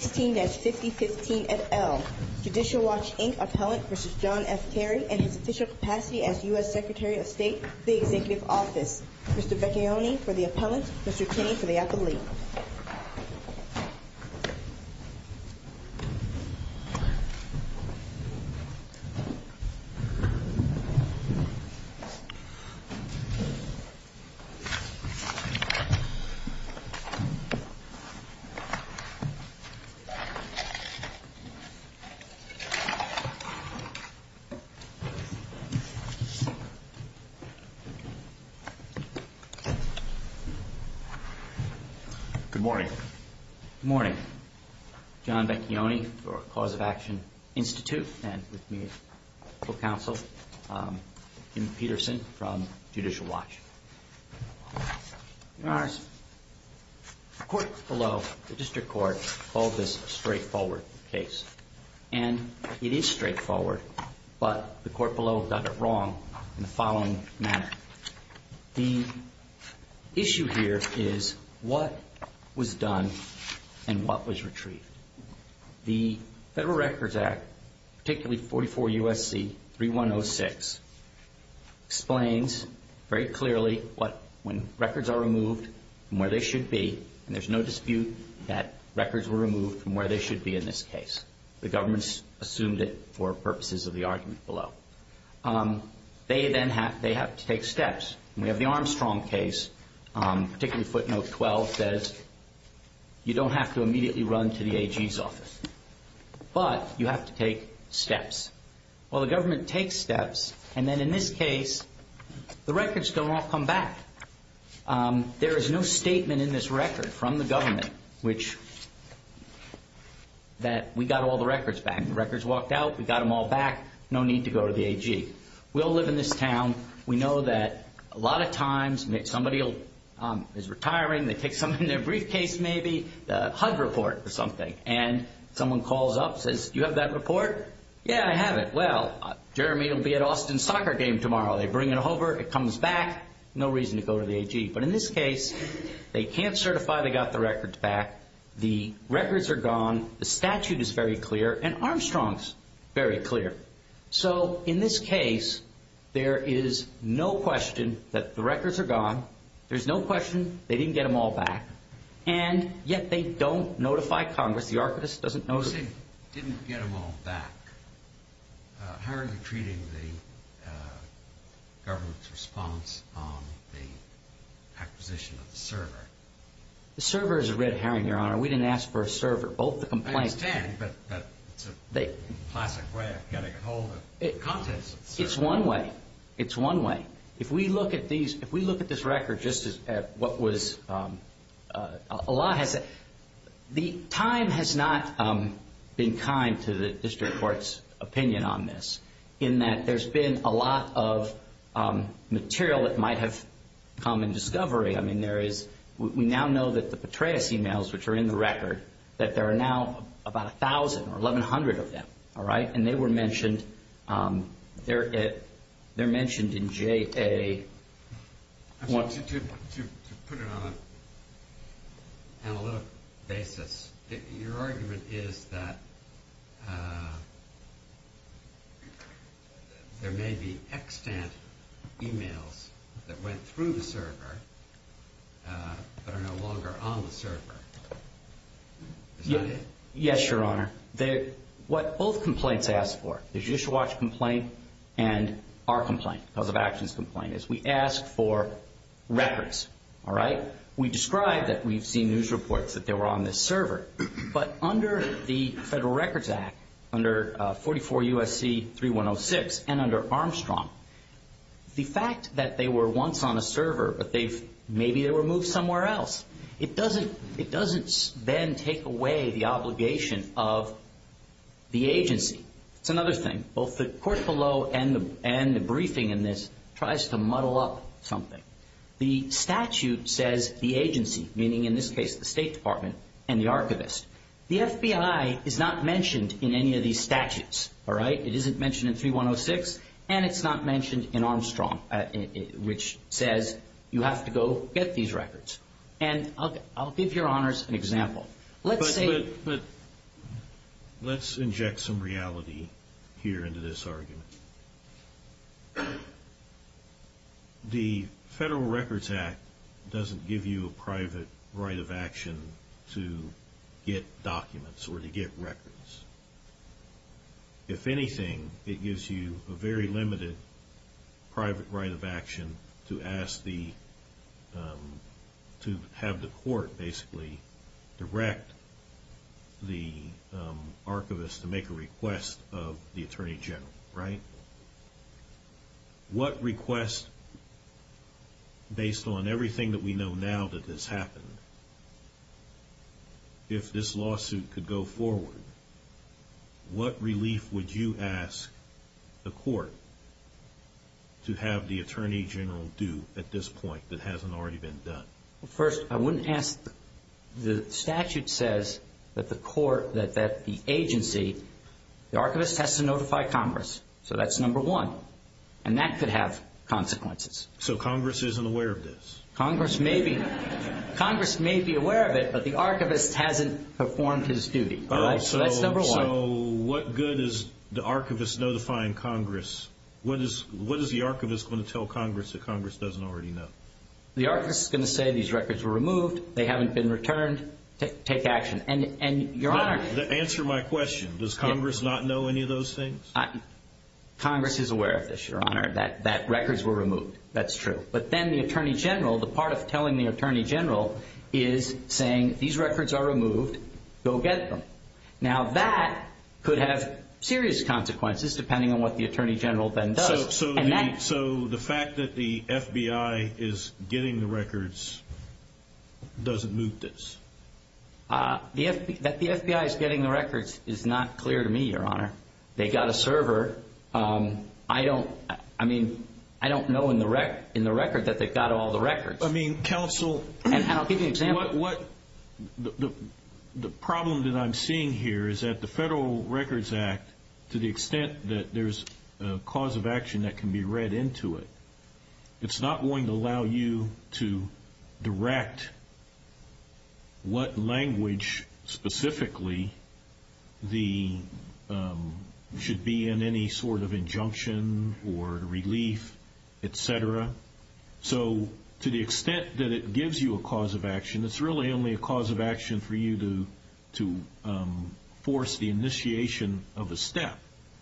Mr. Becchione for the Appellant, Mr. Kinney for the Athlete Good morning. Good morning. John Becchione for Cause of Action Institute and with me is the full counsel, Jim Peterson, from Judicial Watch. Your Honors, the court below the District Attorney's Office, and I'm going to give you a little bit of background on this case. This case is a straightforward case, and it is straightforward, but the court below got it wrong in the following manner. The issue here is what was done and what was retrieved. The Federal Records Act, particularly 44 U.S.C. 3106, explains very clearly what, when records are removed from where they should be, and there's no dispute that records were removed from where they should be in this case. The government assumed it for purposes of the argument below. They then have, they have to take steps. We have the Armstrong case, particularly footnote 12, says you don't have to immediately run to the AG's office, but you have to take steps. Well, the government takes steps, and then in this case, the records don't all come back. There is no statement in this record from the government which, that we got all the records back. The records walked out, we got them all back, no need to go to the AG. We all live in this town. We know that a lot of times, somebody is retiring, they take something in their briefcase maybe, HUD report or something, and someone calls up, says, you have that report? Yeah, I have it. Well, Jeremy will be at Austin soccer game tomorrow. They bring it over, it comes back, no reason to go to the AG. But in this case, they can't certify they got the records back. The records are gone, the statute is very clear, and Armstrong's very clear. So, in this case, there is no question that the records are gone, there's no question they didn't get them all back, and yet they don't notify Congress, the Archivist doesn't notify... You say, didn't get them all back. How are you treating the government's response on the acquisition of the server? The server is a red herring, Your Honor. We didn't ask for a server. Both the complaints... I understand, but it's a classic way of getting a hold of contents of the server. It's one way. It's one way. If we look at these, if we look at this record, just as what was, a lot has... The time has not been kind to the District Court's opinion on this, in that there's been a lot of material that might have come in discovery. I mean, there is, we now know that the Petraeus emails, which are in the record, that there are now about 1,000 or 1,100 of them, all right? And they were mentioned, they're mentioned in JA... I want you to put it on an analytical basis. Your argument is that there may be extant emails that went through the server that are no longer on the server. Is that it? Yes, Your Honor. What both complaints ask for, the Judicial Watch complaint and our complaint, the Cause of Actions complaint, is we ask for records, all right? We describe that we've seen news reports that they were on this server, but under the Federal Records Act, under 44 U.S.C. 3106, and under Armstrong. The fact that they were once on a server, but they've, maybe they were moved somewhere else, it doesn't, it doesn't then take away the obligation of the agency. It's another thing. Both the court below and the briefing in this tries to muddle up something. The statute says the agency, meaning in this case the State Department and the Archivist. The FBI is not mentioned in any of these statutes, all right? It isn't mentioned in 3106, and it's not mentioned in Armstrong, which says you have to go get these records. And I'll give Your Honors an example. Let's say... But let's inject some reality here into this argument. The Federal Records Act doesn't give you a private right of action to get documents or to get records. If anything, it gives you a very limited private right of action to ask the, to have the court basically direct the Archivist to make a request of the Attorney General, right? What request, based on everything that we know now that this happened, if this lawsuit could go forward, what relief would you ask the court to have the Attorney General do at this point that hasn't already been done? First, I wouldn't ask... The statute says that the court, that the agency, the Archivist has to notify Congress. So that's number one. And that could have consequences. So Congress isn't aware of this? Congress may be. Congress may be aware of it, but the Archivist hasn't performed his duty. So that's number one. So what good is the Archivist notifying Congress? What is the Archivist going to tell Congress that Congress doesn't already know? The Archivist is going to say these records were removed, they haven't been returned, take action. And Your Honor... Answer my question. Does Congress not know any of those things? Congress is aware of this, Your Honor, that records were removed. That's true. But then the Attorney General, the part of telling the Attorney General is saying these records are removed, go get them. Now that could have serious consequences depending on what the Attorney General then does. So the fact that the FBI is getting the records doesn't move this? That the FBI is getting the records is not clear to me, Your Honor. They got a server. I don't know in the record that they got all the records. Counsel... And I'll give you an example. The problem that I'm seeing here is that the Federal Records Act, to the extent that there's a cause of action that can be read into it, it's not going to allow you to direct what language specifically should be in any sort of injunction or relief, etc. So to the extent that it gives you a cause of action, it's really only a cause of action for you to force the initiation of a step.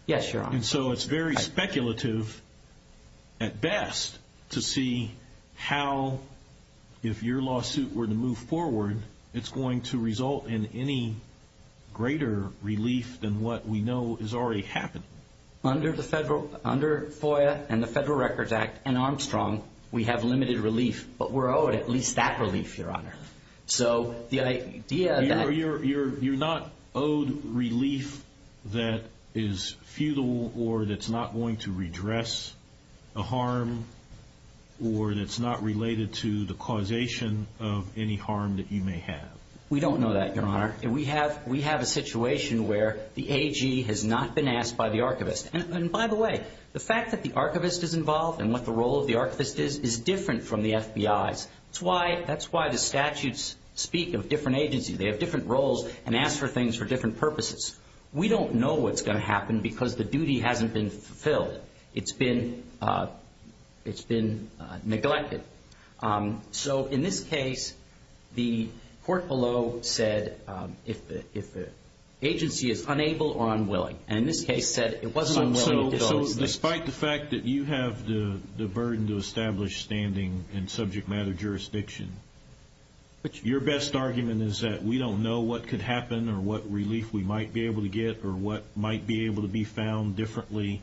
Yes, Your Honor. And so it's very speculative at best to see how, if your lawsuit were to move forward, it's going to result in any greater relief than what we know is already happening. Under FOIA and the Federal Records Act and Armstrong, we have limited relief, but we're owed at least that relief, Your Honor. So the idea that... So you're not owed relief that is futile or that's not going to redress a harm or that's not related to the causation of any harm that you may have. We don't know that, Your Honor. We have a situation where the AG has not been asked by the archivist. And by the way, the fact that the archivist is involved and what the role of the archivist is is different from the FBI's. That's why the statutes speak of a different agency. They have different roles and ask for things for different purposes. We don't know what's going to happen because the duty hasn't been fulfilled. It's been neglected. So in this case, the court below said if the agency is unable or unwilling. And in this case said it wasn't willing to do those things. So despite the fact that you have the burden to establish standing in subject matter jurisdiction, your best argument is that we don't know what could happen or what relief we might be able to get or what might be able to be found differently.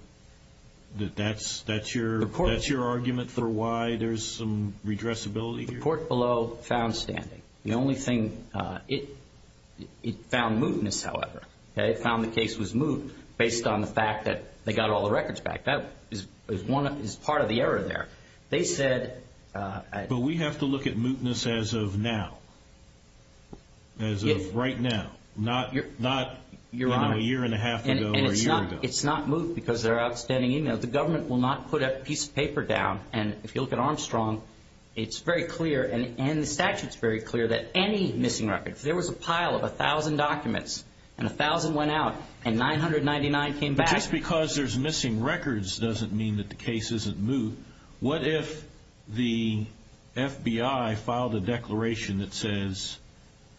That's your argument for why there's some redressability here? The court below found standing. The only thing... It found mootness, however. It found the case was moot based on the fact that they got all the records back. That is part of the error there. They said... But we have to look at mootness as of now. As of right now. Not a year and a half ago or a year ago. It's not moot because they're outstanding. The government will not put a piece of paper down. And if you look at Armstrong, it's very clear and the statute's very clear that any missing records. There was a pile of a thousand documents and a thousand went out and 999 came back. Just because there's missing records doesn't mean that the case isn't moot. What if the FBI filed a declaration that says,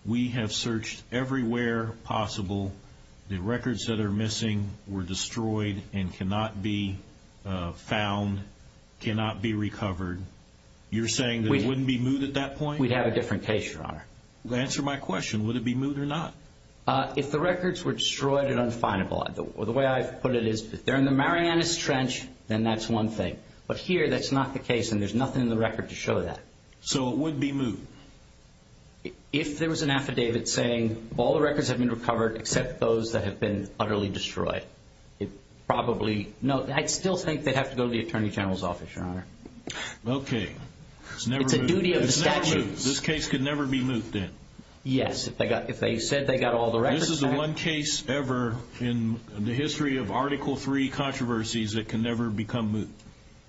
we have searched everywhere possible. The records that are missing were destroyed and cannot be found, cannot be recovered. You're saying that it wouldn't be moot at that point? We'd have a different case, Your Honor. Answer my question. Would it be moot or not? If the records were destroyed and unfindable. The way I put it is, if they're in the Marianas Trench, then that's one thing. But here, that's not the case and there's nothing in the record to show that. So it would be moot? If there was an affidavit saying, all the records have been recovered except those that have been utterly destroyed. It probably... No, I'd still think they'd have to go to the Attorney General's office, Your Honor. Okay. It's never moot. It's a duty of the statute. This case could never be moot then? Yes, if they said they got all the records back. This is the one case ever in the history of Article III controversies that can never become moot.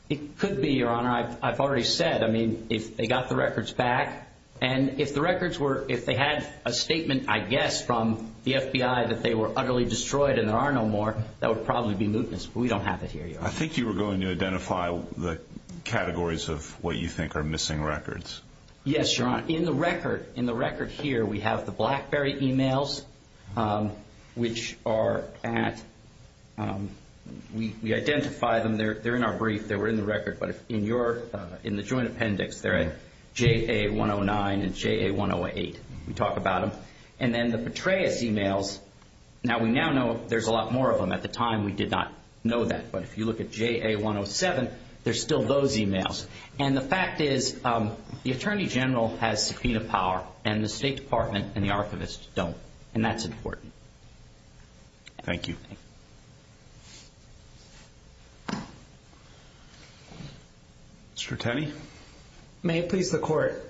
It could be, Your Honor. I've already said. I mean, if they got the records back and if the records were, if they had a statement, I guess, from the FBI that they were utterly destroyed and there are no more, that would probably be mootness. But we don't have it here, Your Honor. I think you were going to identify the categories of what you think are missing records. Yes, Your Honor. In the record here, we have the BlackBerry emails, which are at, we identify them. They're in our brief. They were in the record. But in the joint appendix, they're at JA-109 and JA-108. We talk about them. And then the Petraeus emails, now we now know there's a lot more of them. At the time, we did not know that. But if you look at JA-107, there's still those emails. And the fact is, the Attorney General has subpoena power and the State Department and the Archivist don't. And that's important. Thank you. Mr. Tenney. May it please the Court.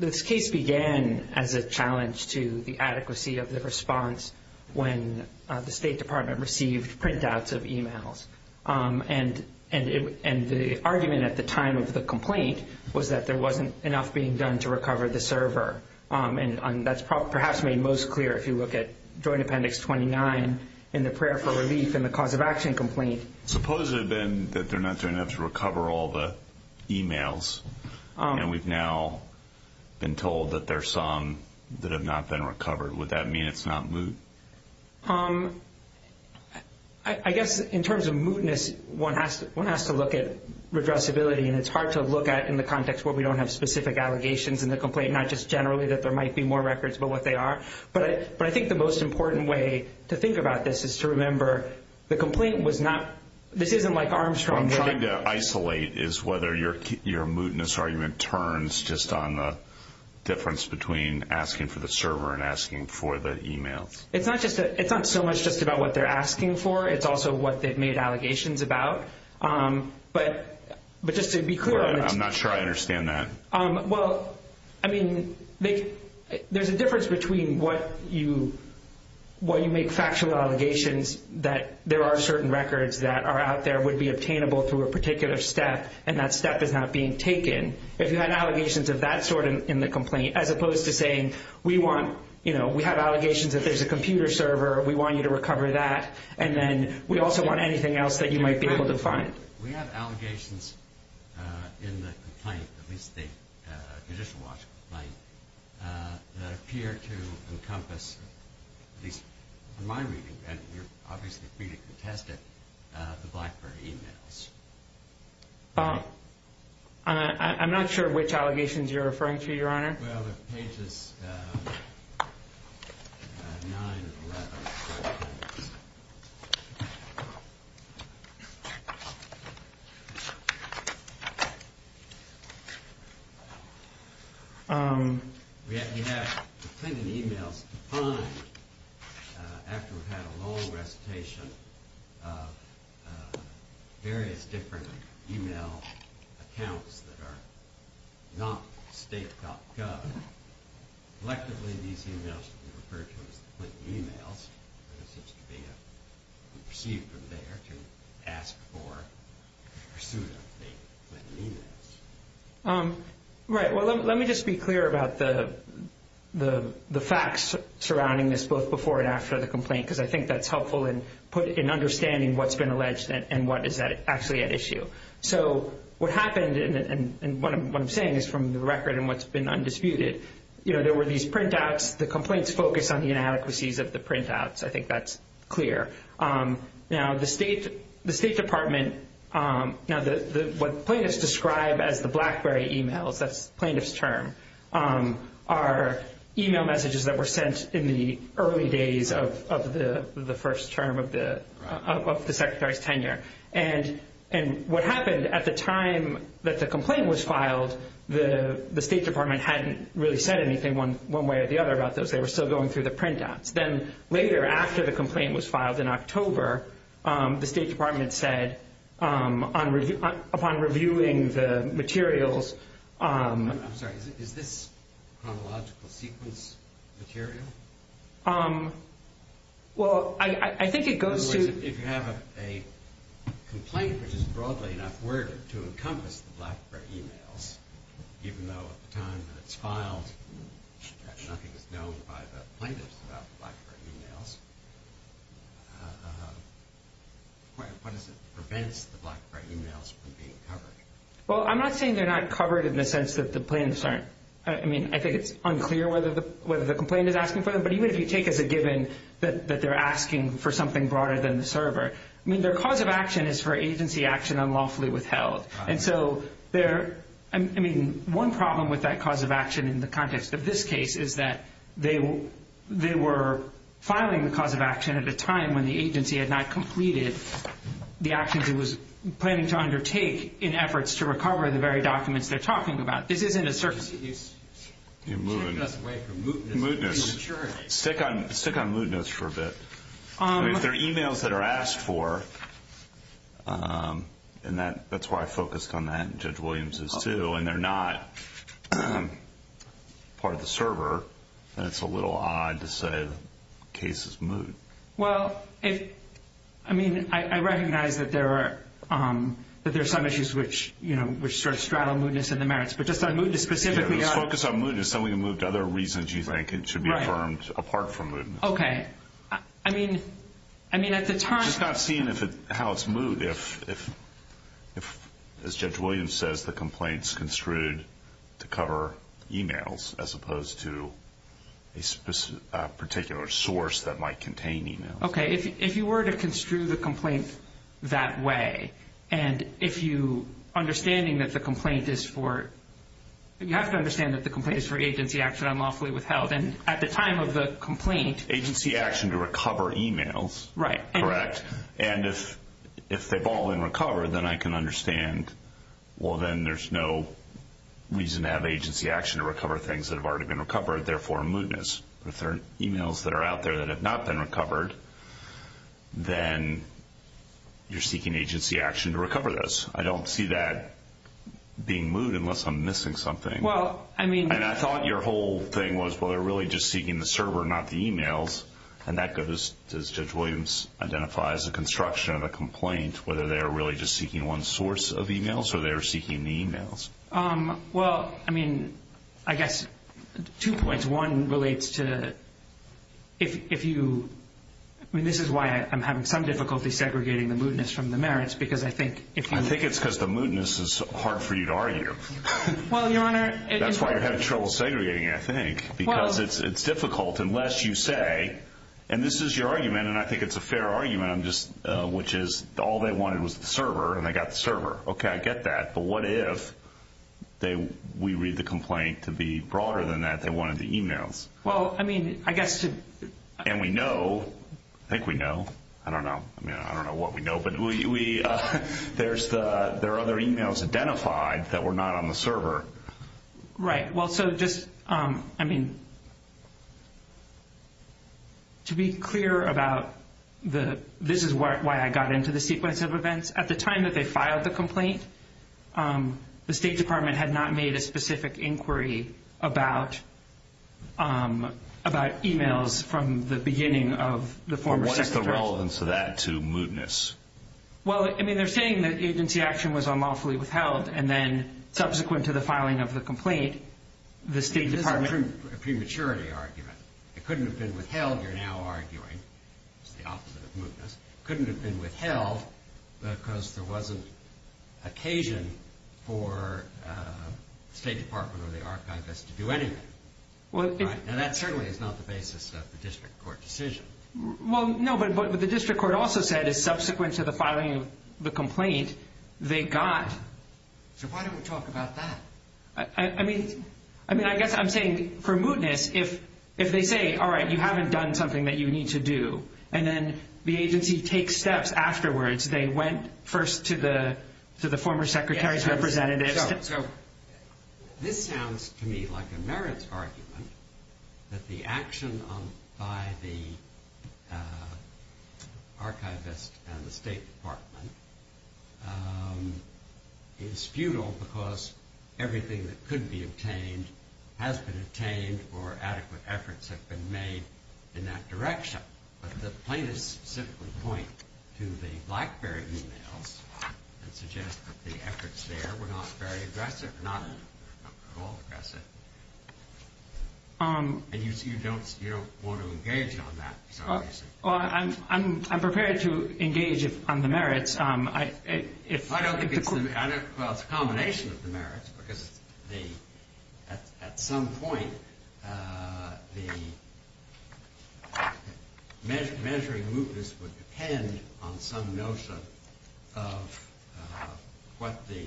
This case began as a challenge to the adequacy of the response when the State Department received printouts of emails. And the argument at the time of the complaint was that there wasn't enough being done to recover the server. And that's perhaps made most clear if you look at Joint Appendix 29 in the prayer for relief in the cause of action complaint. Suppose it had been that they're not doing enough to recover all the emails. And we've now been told that there are some that have not been recovered. Would that mean it's not moot? I guess in terms of mootness, one has to look at redressability. And it's hard to look at in the context where we don't have specific allegations in the complaint, not just generally that there might be more records, but what they are. But I think the most important way to think about this is to remember the complaint was not – this isn't like Armstrong trying to – it's not so much just about what they're asking for. It's also what they've made allegations about. But just to be clear – I'm not sure I understand that. Well, I mean, there's a difference between what you make factual allegations that there are certain records that are out there would be obtainable through a particular step and that step is not being taken. If you had allegations of that sort in the complaint, as opposed to saying, we have allegations that there's a computer server, we want you to recover that, and then we also want anything else that you might be able to find. We have allegations in the complaint, at least the Judicial Watch complaint, that appear to encompass – at least in my reading, and you're obviously free to contest it – the BlackBerry emails. I'm not sure which allegations you're referring to, Your Honor. Well, there's pages 9 and 11. We have the Clinton emails to find after we've had a long recitation of various different email accounts that are not state.gov. Collectively, these emails can be referred to as the Clinton emails. There seems to be a receipt from there to ask for a pursuit of the Clinton emails. Right. Well, let me just be clear about the facts surrounding this, both before and after the complaint, because I think that's helpful in understanding what's been alleged and what is actually at issue. So what happened, and what I'm saying is from the record and what's been undisputed, there were these printouts. The complaints focus on the inadequacies of the printouts. I think that's clear. Now, the State Department – now, what plaintiffs describe as the BlackBerry emails, that's plaintiff's term, are email messages that were sent in the early days of the first term of the Secretary's tenure. And what happened at the time that the complaint was filed, the State Department hadn't really said anything one way or the other about those. They were still going through the printouts. Then later, after the complaint was filed in October, the State Department said, upon reviewing the materials – I'm sorry. Is this chronological sequence material? Well, I think it goes to – If you have a complaint which is broadly enough worded to encompass the BlackBerry emails, even though at the time that it's filed nothing is known by the plaintiffs about the BlackBerry emails, what is it that prevents the BlackBerry emails from being covered? Well, I'm not saying they're not covered in the sense that the plaintiffs aren't. I mean, I think it's unclear whether the complaint is asking for them, but even if you take as a given that they're asking for something broader than the server, I mean, their cause of action is for agency action unlawfully withheld. And so there – I mean, one problem with that cause of action in the context of this case is that they were filing the cause of action at a time when the agency had not completed the actions it was planning to undertake in efforts to recover the very documents they're talking about. This isn't a – You're mooting. Mootness. Stick on mootness for a bit. I mean, if they're emails that are asked for, and that's why I focused on that, and Judge Williams is too, and they're not part of the server, then it's a little odd to say the case is moot. Well, I mean, I recognize that there are some issues which sort of straddle mootness and the merits, but just on mootness specifically. Yeah, let's focus on mootness. Then we can move to other reasons you think should be affirmed apart from mootness. Okay. I mean, at the time – It's not seeing how it's moot if, as Judge Williams says, the complaint's construed to cover emails as opposed to a particular source that might contain emails. Okay. If you were to construe the complaint that way, and if you – understanding that the complaint is for – you have to understand that the complaint is for agency action unlawfully withheld, and at the time of the complaint – Agency action to recover emails. Right. Correct. And if they've all been recovered, then I can understand, well, then there's no reason to have agency action to recover things that have already been recovered, therefore mootness. But if there are emails that are out there that have not been recovered, then you're seeking agency action to recover those. I don't see that being moot unless I'm missing something. Well, I mean – And I thought your whole thing was, well, they're really just seeking the server, not the emails, and that goes – does Judge Williams identify as a construction of a complaint whether they're really just seeking one source of emails or they're seeking the emails? Well, I mean, I guess two points. One relates to if you – I mean, this is why I'm having some difficulty segregating the mootness from the merits, because I think if you – I think it's because the mootness is hard for you to argue. Well, Your Honor – That's why you're having trouble segregating it, I think, because it's difficult unless you say – and this is your argument, and I think it's a fair argument, which is all they wanted was the server, and they got the server. Okay, I get that. But what if we read the complaint to be broader than that? They wanted the emails. Well, I mean, I guess to – And we know – I think we know. I don't know. I mean, I don't know what we know, but we – there are other emails identified that were not on the server. Right. Well, so just – I mean, to be clear about the – this is why I got into the sequence of events. At the time that they filed the complaint, the State Department had not made a specific inquiry about emails from the beginning of the former secretary. What is the relevance of that to mootness? Well, I mean, they're saying that agency action was unlawfully withheld, and then subsequent to the filing of the complaint, the State Department – This is a prematurity argument. It couldn't have been withheld. You're now arguing it's the opposite of mootness. It couldn't have been withheld because there wasn't occasion for the State Department or the Archivist to do anything. And that certainly is not the basis of the district court decision. Well, no, but the district court also said, as subsequent to the filing of the complaint, they got – So why don't we talk about that? I mean, I guess I'm saying for mootness, if they say, all right, you haven't done something that you need to do, and then the agency takes steps afterwards. They went first to the former secretary's representatives. So this sounds to me like a merits argument that the action by the Archivist and the State Department is futile because everything that could be obtained has been obtained or adequate efforts have been made in that direction. But the plaintiffs simply point to the Blackberry emails and suggest that the efforts there were not very aggressive, not at all aggressive. And you don't want to engage on that. Well, I'm prepared to engage on the merits. I don't think it's – well, it's a combination of the merits because at some point the measuring mootness would depend on some notion of what the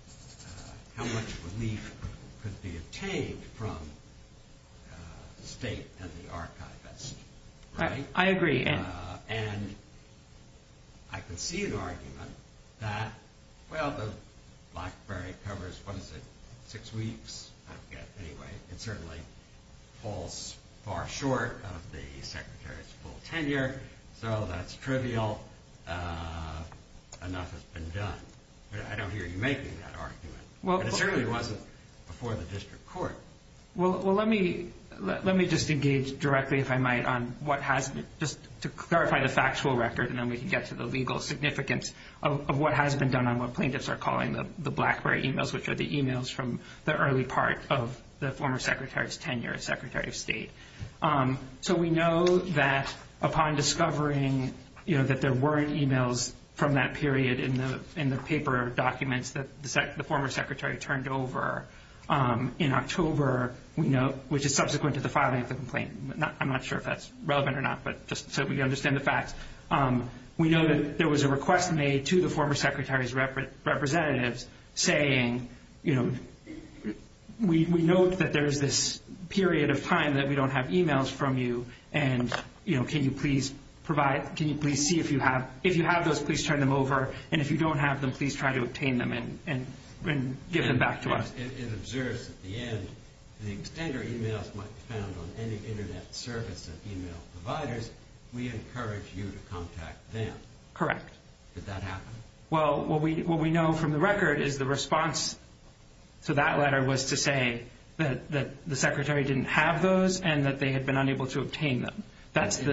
– how much relief could be obtained from the state and the archivist. I agree. And I can see an argument that, well, the Blackberry covers, what is it, six weeks? I forget, anyway. It certainly falls far short of the secretary's full tenure, so that's trivial. Enough has been done. I don't hear you making that argument. But it certainly wasn't before the district court. Well, let me just engage directly, if I might, on what has been – just to clarify the factual record and then we can get to the legal significance of what has been done on what plaintiffs are calling the Blackberry emails, which are the emails from the early part of the former secretary's tenure as secretary of state. So we know that upon discovering that there weren't emails from that period in the paper documents that the former secretary turned over in October, which is subsequent to the filing of the complaint. I'm not sure if that's relevant or not, but just so we understand the facts. We know that there was a request made to the former secretary's representatives saying we note that there is this period of time that we don't have emails from you and, you know, can you please provide – can you please see if you have – if you have those, please turn them over, and if you don't have them, please try to obtain them and give them back to us. It observes at the end, the extender emails might be found on any internet service of email providers. We encourage you to contact them. Correct. Did that happen? Well, what we know from the record is the response to that letter was to say that the secretary didn't have those and that they had been unable to obtain them. That's the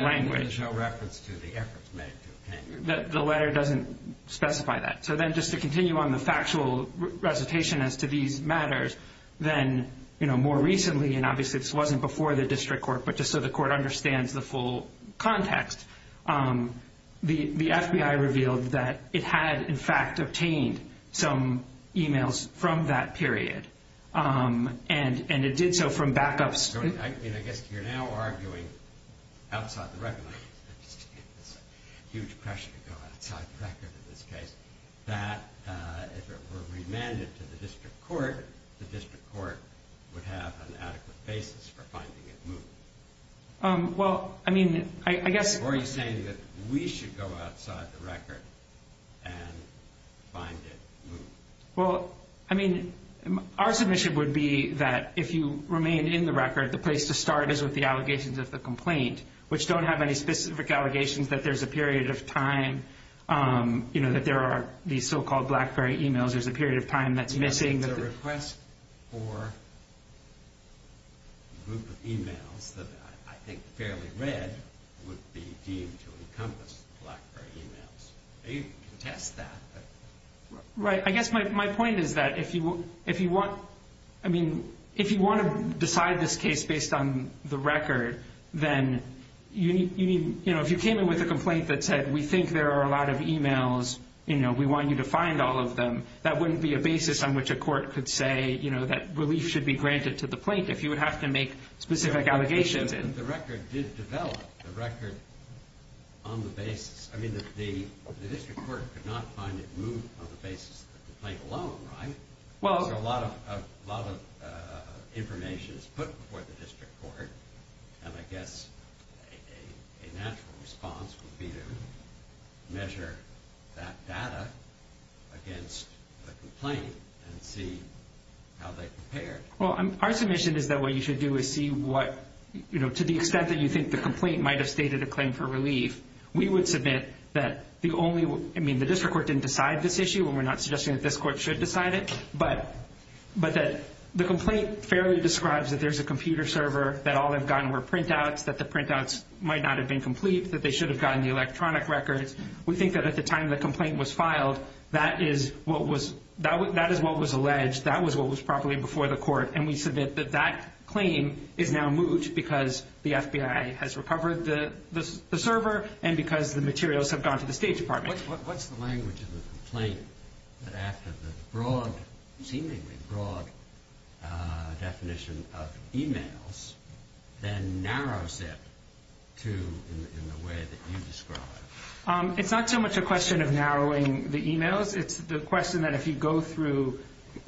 language. There's no reference to the efforts made to obtain them. The letter doesn't specify that. So then just to continue on the factual recitation as to these matters, then, you know, more recently, and obviously this wasn't before the district court, but just so the court understands the full context, the FBI revealed that it had, in fact, obtained some emails from that period, and it did so from backups. I mean, I guess you're now arguing outside the record. It's a huge pressure to go outside the record in this case, that if it were remanded to the district court, the district court would have an adequate basis for finding it moved. Well, I mean, I guess... Or are you saying that we should go outside the record and find it moved? Well, I mean, our submission would be that if you remain in the record, the place to start is with the allegations of the complaint, which don't have any specific allegations that there's a period of time, you know, that there are these so-called Blackberry emails, there's a period of time that's missing. Are you saying that a request for a group of emails that I think are fairly red would be deemed to encompass the Blackberry emails? You can test that. Right. I guess my point is that if you want to decide this case based on the record, then if you came in with a complaint that said, we think there are a lot of emails, you know, we want you to find all of them, that wouldn't be a basis on which a court could say, you know, that relief should be granted to the plaintiff if you would have to make specific allegations. The record did develop, the record on the basis... I mean, the district court could not find it moved on the basis of the complaint alone, right? Well... So a lot of information is put before the district court, and I guess a natural response would be to measure that data against the complaint and see how they compare. Well, our submission is that what you should do is see what, you know, to the extent that you think the complaint might have stated a claim for relief, we would submit that the only... I mean, the district court didn't decide this issue, and we're not suggesting that this court should decide it, but that the complaint fairly describes that there's a computer server, that all they've gotten were printouts, that the printouts might not have been complete, that they should have gotten the electronic records. We think that at the time the complaint was filed, that is what was alleged, that was what was properly before the court, and we submit that that claim is now moved because the FBI has recovered the server and because the materials have gone to the State Department. What's the language of the complaint that after the broad, seemingly broad definition of e-mails, then narrows it in the way that you describe? It's not so much a question of narrowing the e-mails. It's the question that if you go through...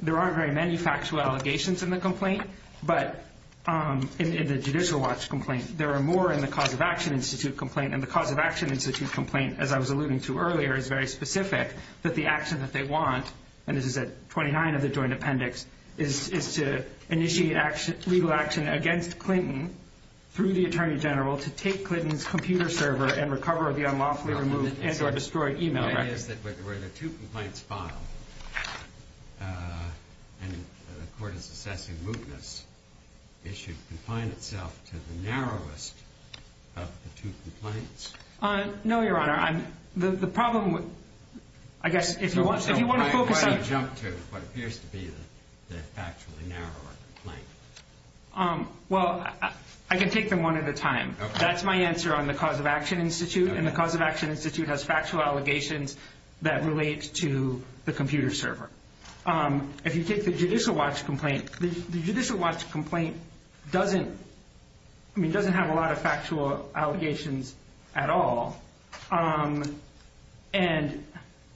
There aren't very many factual allegations in the complaint, but in the Judicial Watch complaint, there are more in the Cause of Action Institute complaint, and the Cause of Action Institute complaint, as I was alluding to earlier, is very specific that the action that they want, and this is at 29 of the joint appendix, is to initiate legal action against Clinton through the Attorney General to take Clinton's computer server and recover the unlawfully removed and or destroyed e-mail records. The idea is that where the two complaints filed, and the court is assessing mootness, it should confine itself to the narrowest of the two complaints. No, Your Honor. The problem with... I guess if you want to focus on... So why do I jump to what appears to be the factually narrower complaint? Well, I can take them one at a time. That's my answer on the Cause of Action Institute, and the Cause of Action Institute has factual allegations that relate to the computer server. If you take the Judicial Watch complaint, the Judicial Watch complaint doesn't have a lot of factual allegations at all. And...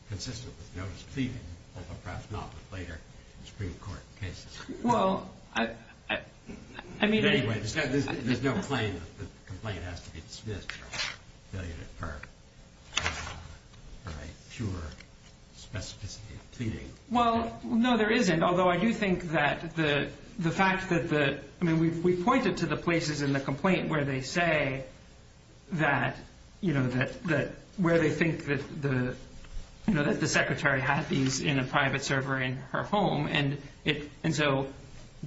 Consistent with notice of pleading, although perhaps not with later Supreme Court cases. Well, I mean... Anyway, there's no claim that the complaint has to be dismissed or affiliated for a pure specificity of pleading. Well, no, there isn't, although I do think that the fact that the... I mean, we've pointed to the places in the complaint where they say that... Where they think that the secretary had these in a private server in her home. And so,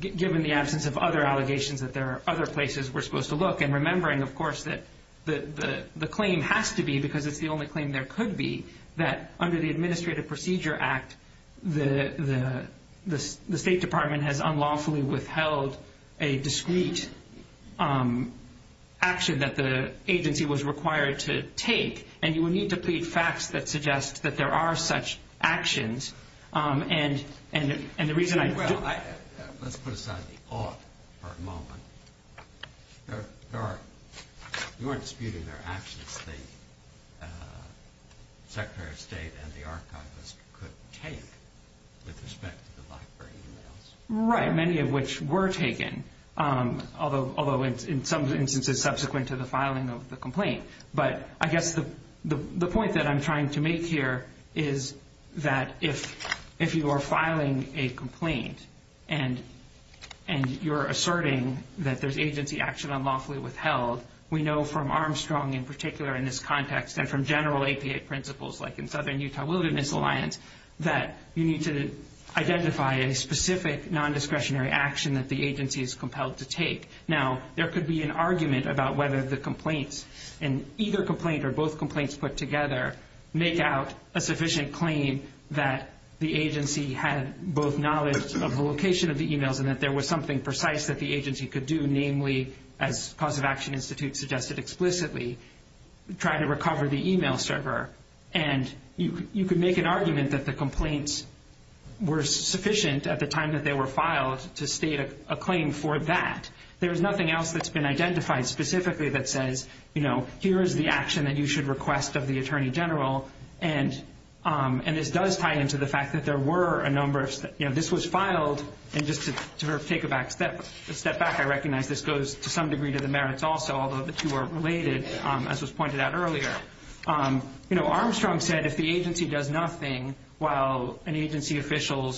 given the absence of other allegations, that there are other places we're supposed to look, and remembering, of course, that the claim has to be, because it's the only claim there could be, that under the Administrative Procedure Act, the State Department has unlawfully withheld a discrete action that the agency was required to take. And you would need to plead facts that suggest that there are such actions. And the reason I... Well, let's put aside the ought for a moment. There are... We weren't disputing their actions. I guess the Secretary of State and the Archivist could take, with respect to the library emails. Right, many of which were taken, although in some instances subsequent to the filing of the complaint. But I guess the point that I'm trying to make here is that if you are filing a complaint and you're asserting that there's agency action unlawfully withheld, we know from Armstrong, in particular, in this context, and from general APA principles, like in Southern Utah Wilderness Alliance, that you need to identify a specific nondiscretionary action that the agency is compelled to take. Now, there could be an argument about whether the complaints, and either complaint or both complaints put together, make out a sufficient claim that the agency had both knowledge of the location of the emails and that there was something precise that the agency could do, namely, as Cause of Action Institute suggested explicitly, try to recover the email server. And you could make an argument that the complaints were sufficient at the time that they were filed to state a claim for that. There is nothing else that's been identified specifically that says, you know, here is the action that you should request of the Attorney General. And this does tie into the fact that there were a number of... You know, this was filed, and just to sort of take a step back, I recognize this goes to some degree to the merits also, although the two are related, as was pointed out earlier. You know, Armstrong said if the agency does nothing while an agency official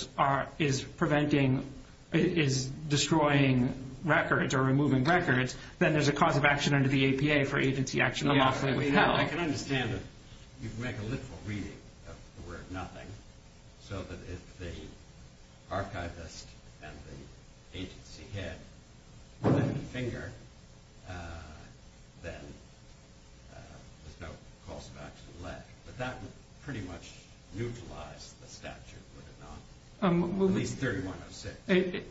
is preventing, is destroying records or removing records, then there's a cause of action under the APA for agency action unlawfully withheld. I can understand that you'd make a little reading of the word nothing so that if the archivist and the agency head were to finger, then there's no cause of action left. But that would pretty much neutralize the statute, would it not? At least 3106.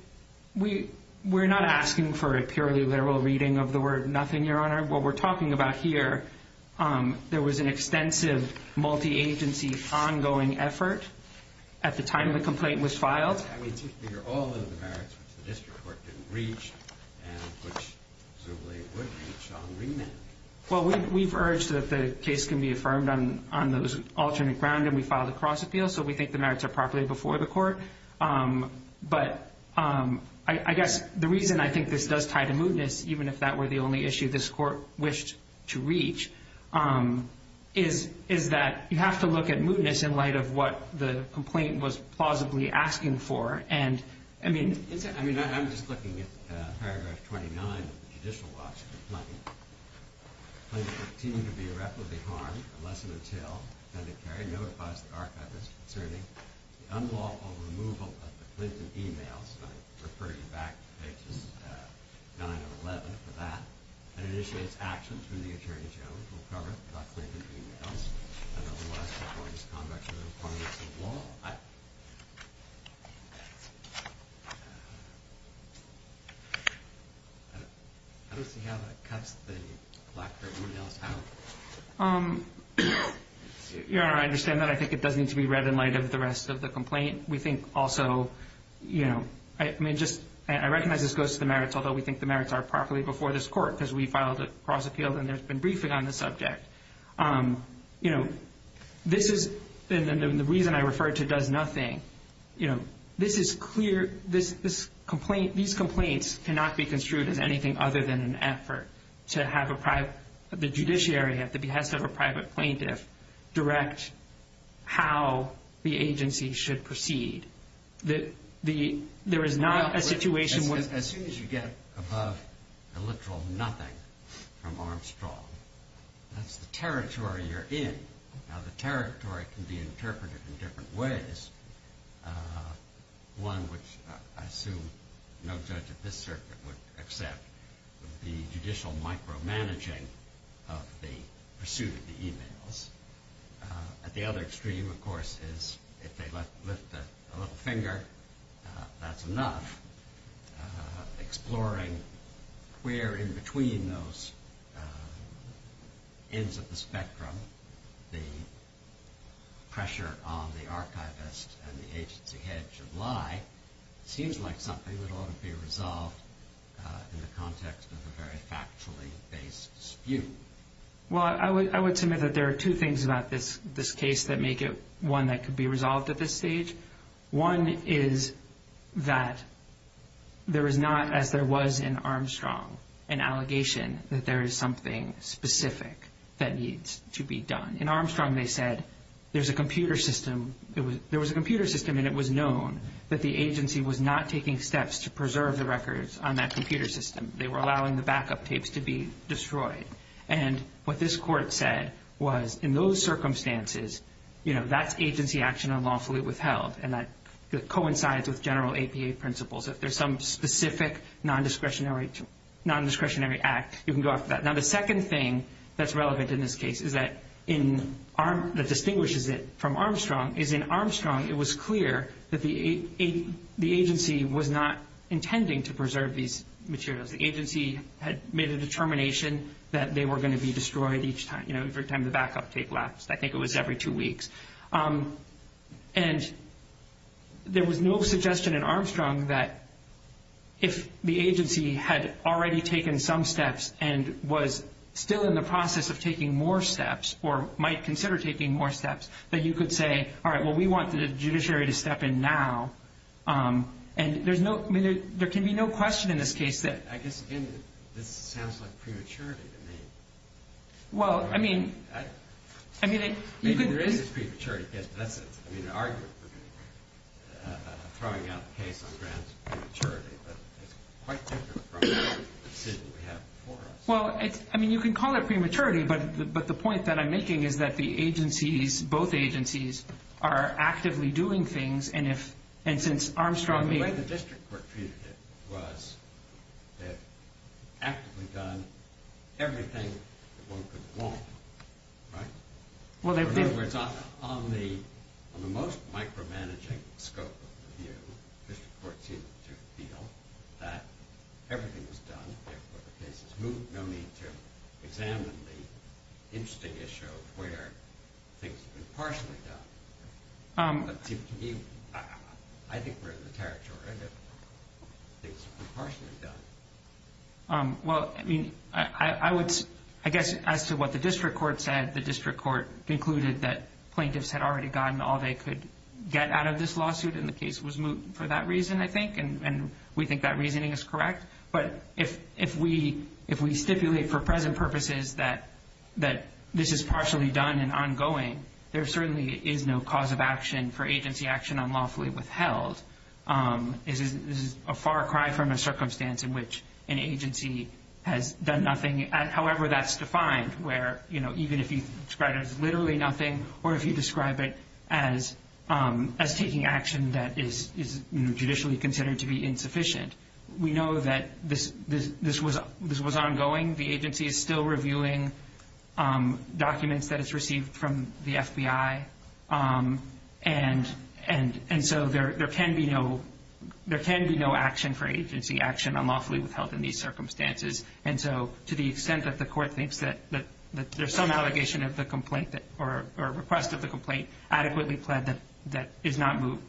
We're not asking for a purely literal reading of the word nothing, Your Honor. What we're talking about here, there was an extensive multi-agency ongoing effort at the time the complaint was filed. Well, we've urged that the case can be affirmed on those alternate ground, and we filed a cross-appeal, so we think the merits are properly before the court. But I guess the reason I think this does tie to mootness, even if that were the only issue this court wished to reach, is that you have to look at mootness in light of what the complaint was plausibly asking for. I'm just looking at paragraph 29 of the judicial watch of the complaint. Clinton continues to be irreparably harmed unless and until the attorney general notifies the archivist concerning the unlawful removal of the Clinton e-mails, and I'm referring you back to pages 9 and 11 for that, and initiates actions when the attorney general will cover the Clinton e-mails and otherwise support his conduct within the confines of law. Well, I don't see how that cuts the lack of mootness out. Your Honor, I understand that. I think it does need to be read in light of the rest of the complaint. We think also, you know, I recognize this goes to the merits, although we think the merits are properly before this court because we filed a cross-appeal and there's been briefing on the subject. You know, this is the reason I referred to does nothing. You know, this is clear. These complaints cannot be construed as anything other than an effort to have the judiciary at the behest of a private plaintiff direct how the agency should proceed. There is not a situation where... As soon as you get above the literal nothing from Armstrong, that's the territory you're in. Now, the territory can be interpreted in different ways. One which I assume no judge of this circuit would accept would be judicial micromanaging of the pursuit of the e-mails. At the other extreme, of course, is if they lift a little finger, that's enough. Exploring where in between those ends of the spectrum the pressure on the archivist and the agency head should lie seems like something that ought to be resolved in the context of a very factually based dispute. Well, I would submit that there are two things about this case that make it one that could be resolved at this stage. One is that there is not, as there was in Armstrong, an allegation that there is something specific that needs to be done. In Armstrong, they said there was a computer system and it was known that the agency was not taking steps to preserve the records on that computer system. They were allowing the backup tapes to be destroyed. And what this court said was, in those circumstances, that's agency action unlawfully withheld and that coincides with general APA principles. If there's some specific non-discretionary act, you can go after that. Now, the second thing that's relevant in this case that distinguishes it from Armstrong is in Armstrong, it was clear that the agency was not intending to preserve these materials. The agency had made a determination that they were going to be destroyed each time. Every time the backup tape lapsed. I think it was every two weeks. And there was no suggestion in Armstrong that if the agency had already taken some steps and was still in the process of taking more steps or might consider taking more steps, that you could say, all right, well, we want the judiciary to step in now. And there can be no question in this case that... I guess, again, this sounds like prematurity to me. Well, I mean... Maybe there is this prematurity. That's an argument for throwing out the case on grounds of prematurity, but it's quite different from the decision we have before us. Well, I mean, you can call it prematurity, but the point that I'm making is that the agencies, both agencies, are actively doing things, and since Armstrong... The way the district court treated it was they had actively done everything that one could want, right? In other words, on the most micromanaging scope of the view, the district court seemed to feel that everything was done. There were cases moved. No need to examine the interesting issue of where things have been partially done. To me, I think we're in the territory of things partially done. Well, I mean, I guess as to what the district court said, the district court concluded that plaintiffs had already gotten all they could get out of this lawsuit, and the case was moved for that reason, I think, and we think that reasoning is correct. But if we stipulate for present purposes that this is partially done and ongoing, there certainly is no cause of action for agency action unlawfully withheld. This is a far cry from a circumstance in which an agency has done nothing. However that's defined, where even if you describe it as literally nothing or if you describe it as taking action that is judicially considered to be insufficient, we know that this was ongoing. The agency is still reviewing documents that it's received from the FBI, and so there can be no action for agency action unlawfully withheld in these circumstances. And so to the extent that the court thinks that there's some allegation of the complaint or request of the complaint adequately pled that is not moved,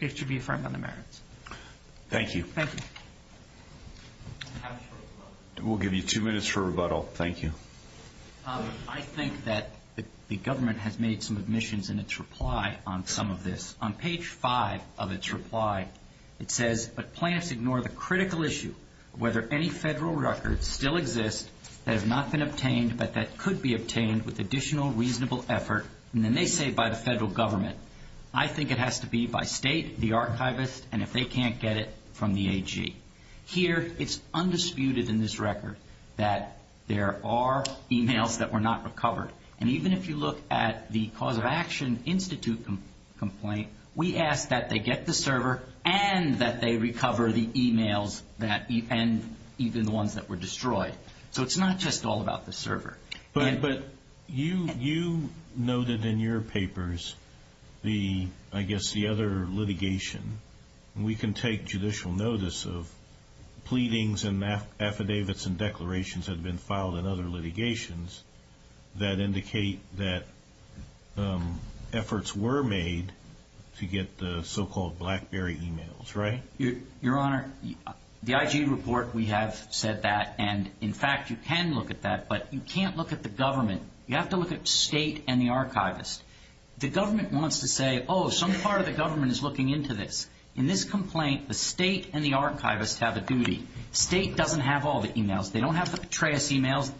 it should be affirmed on the merits. Thank you. Thank you. We'll give you two minutes for rebuttal. Thank you. I think that the government has made some admissions in its reply on some of this. On page 5 of its reply, it says, but plaintiffs ignore the critical issue of whether any federal records still exist that have not been obtained but that could be obtained with additional reasonable effort, and then they say by the federal government. I think it has to be by state, the archivist, and if they can't get it, from the AG. Here it's undisputed in this record that there are e-mails that were not recovered, and even if you look at the Cause of Action Institute complaint, we ask that they get the server and that they recover the e-mails and even the ones that were destroyed. So it's not just all about the server. But you noted in your papers the, I guess, the other litigation. We can take judicial notice of pleadings and affidavits and declarations that have been filed in other litigations that indicate that efforts were made to get the so-called BlackBerry e-mails, right? Your Honor, the IG report, we have said that. And, in fact, you can look at that, but you can't look at the government. You have to look at state and the archivist. The government wants to say, oh, some part of the government is looking into this. In this complaint, the state and the archivist have a duty. State doesn't have all the e-mails. They don't have the Petraeus e-mails.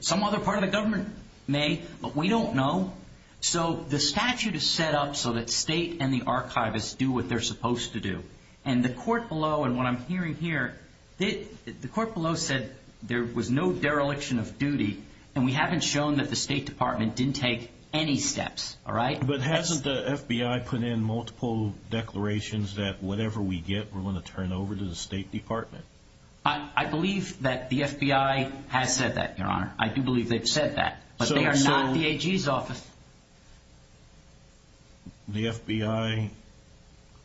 Some other part of the government may, but we don't know. So the statute is set up so that state and the archivist do what they're supposed to do. And the court below and what I'm hearing here, the court below said there was no dereliction of duty, and we haven't shown that the State Department didn't take any steps, all right? But hasn't the FBI put in multiple declarations that whatever we get, we're going to turn over to the State Department? I believe that the FBI has said that, Your Honor. I do believe they've said that, but they are not the AG's office. The FBI.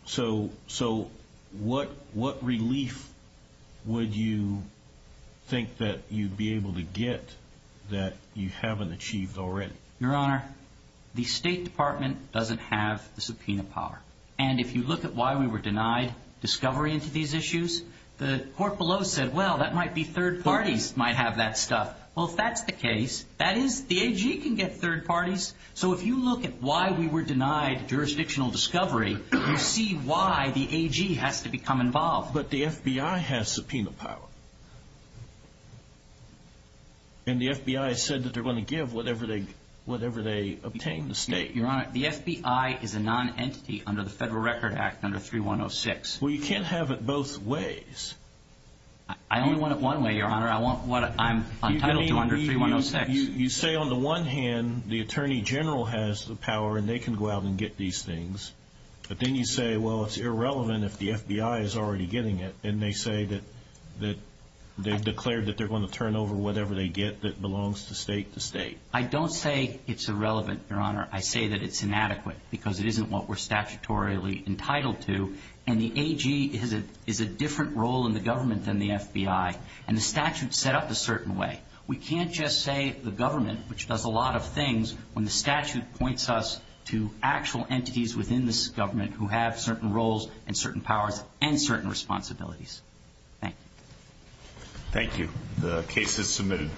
So what relief would you think that you'd be able to get that you haven't achieved already? Your Honor, the State Department doesn't have the subpoena power. And if you look at why we were denied discovery into these issues, the court below said, well, that might be third parties might have that stuff. Well, if that's the case, that is the AG can get third parties. So if you look at why we were denied jurisdictional discovery, you see why the AG has to become involved. But the FBI has subpoena power. And the FBI said that they're going to give whatever they obtain the state. Your Honor, the FBI is a non-entity under the Federal Record Act under 3106. Well, you can't have it both ways. I only want it one way, Your Honor. I want what I'm entitled to under 3106. You say on the one hand the attorney general has the power and they can go out and get these things. But then you say, well, it's irrelevant if the FBI is already getting it. And they say that they've declared that they're going to turn over whatever they get that belongs to state to state. I don't say it's irrelevant, Your Honor. I say that it's inadequate because it isn't what we're statutorily entitled to. And the AG is a different role in the government than the FBI. And the statute is set up a certain way. We can't just say the government, which does a lot of things, when the statute points us to actual entities within this government who have certain roles and certain powers and certain responsibilities. Thank you. The case is submitted.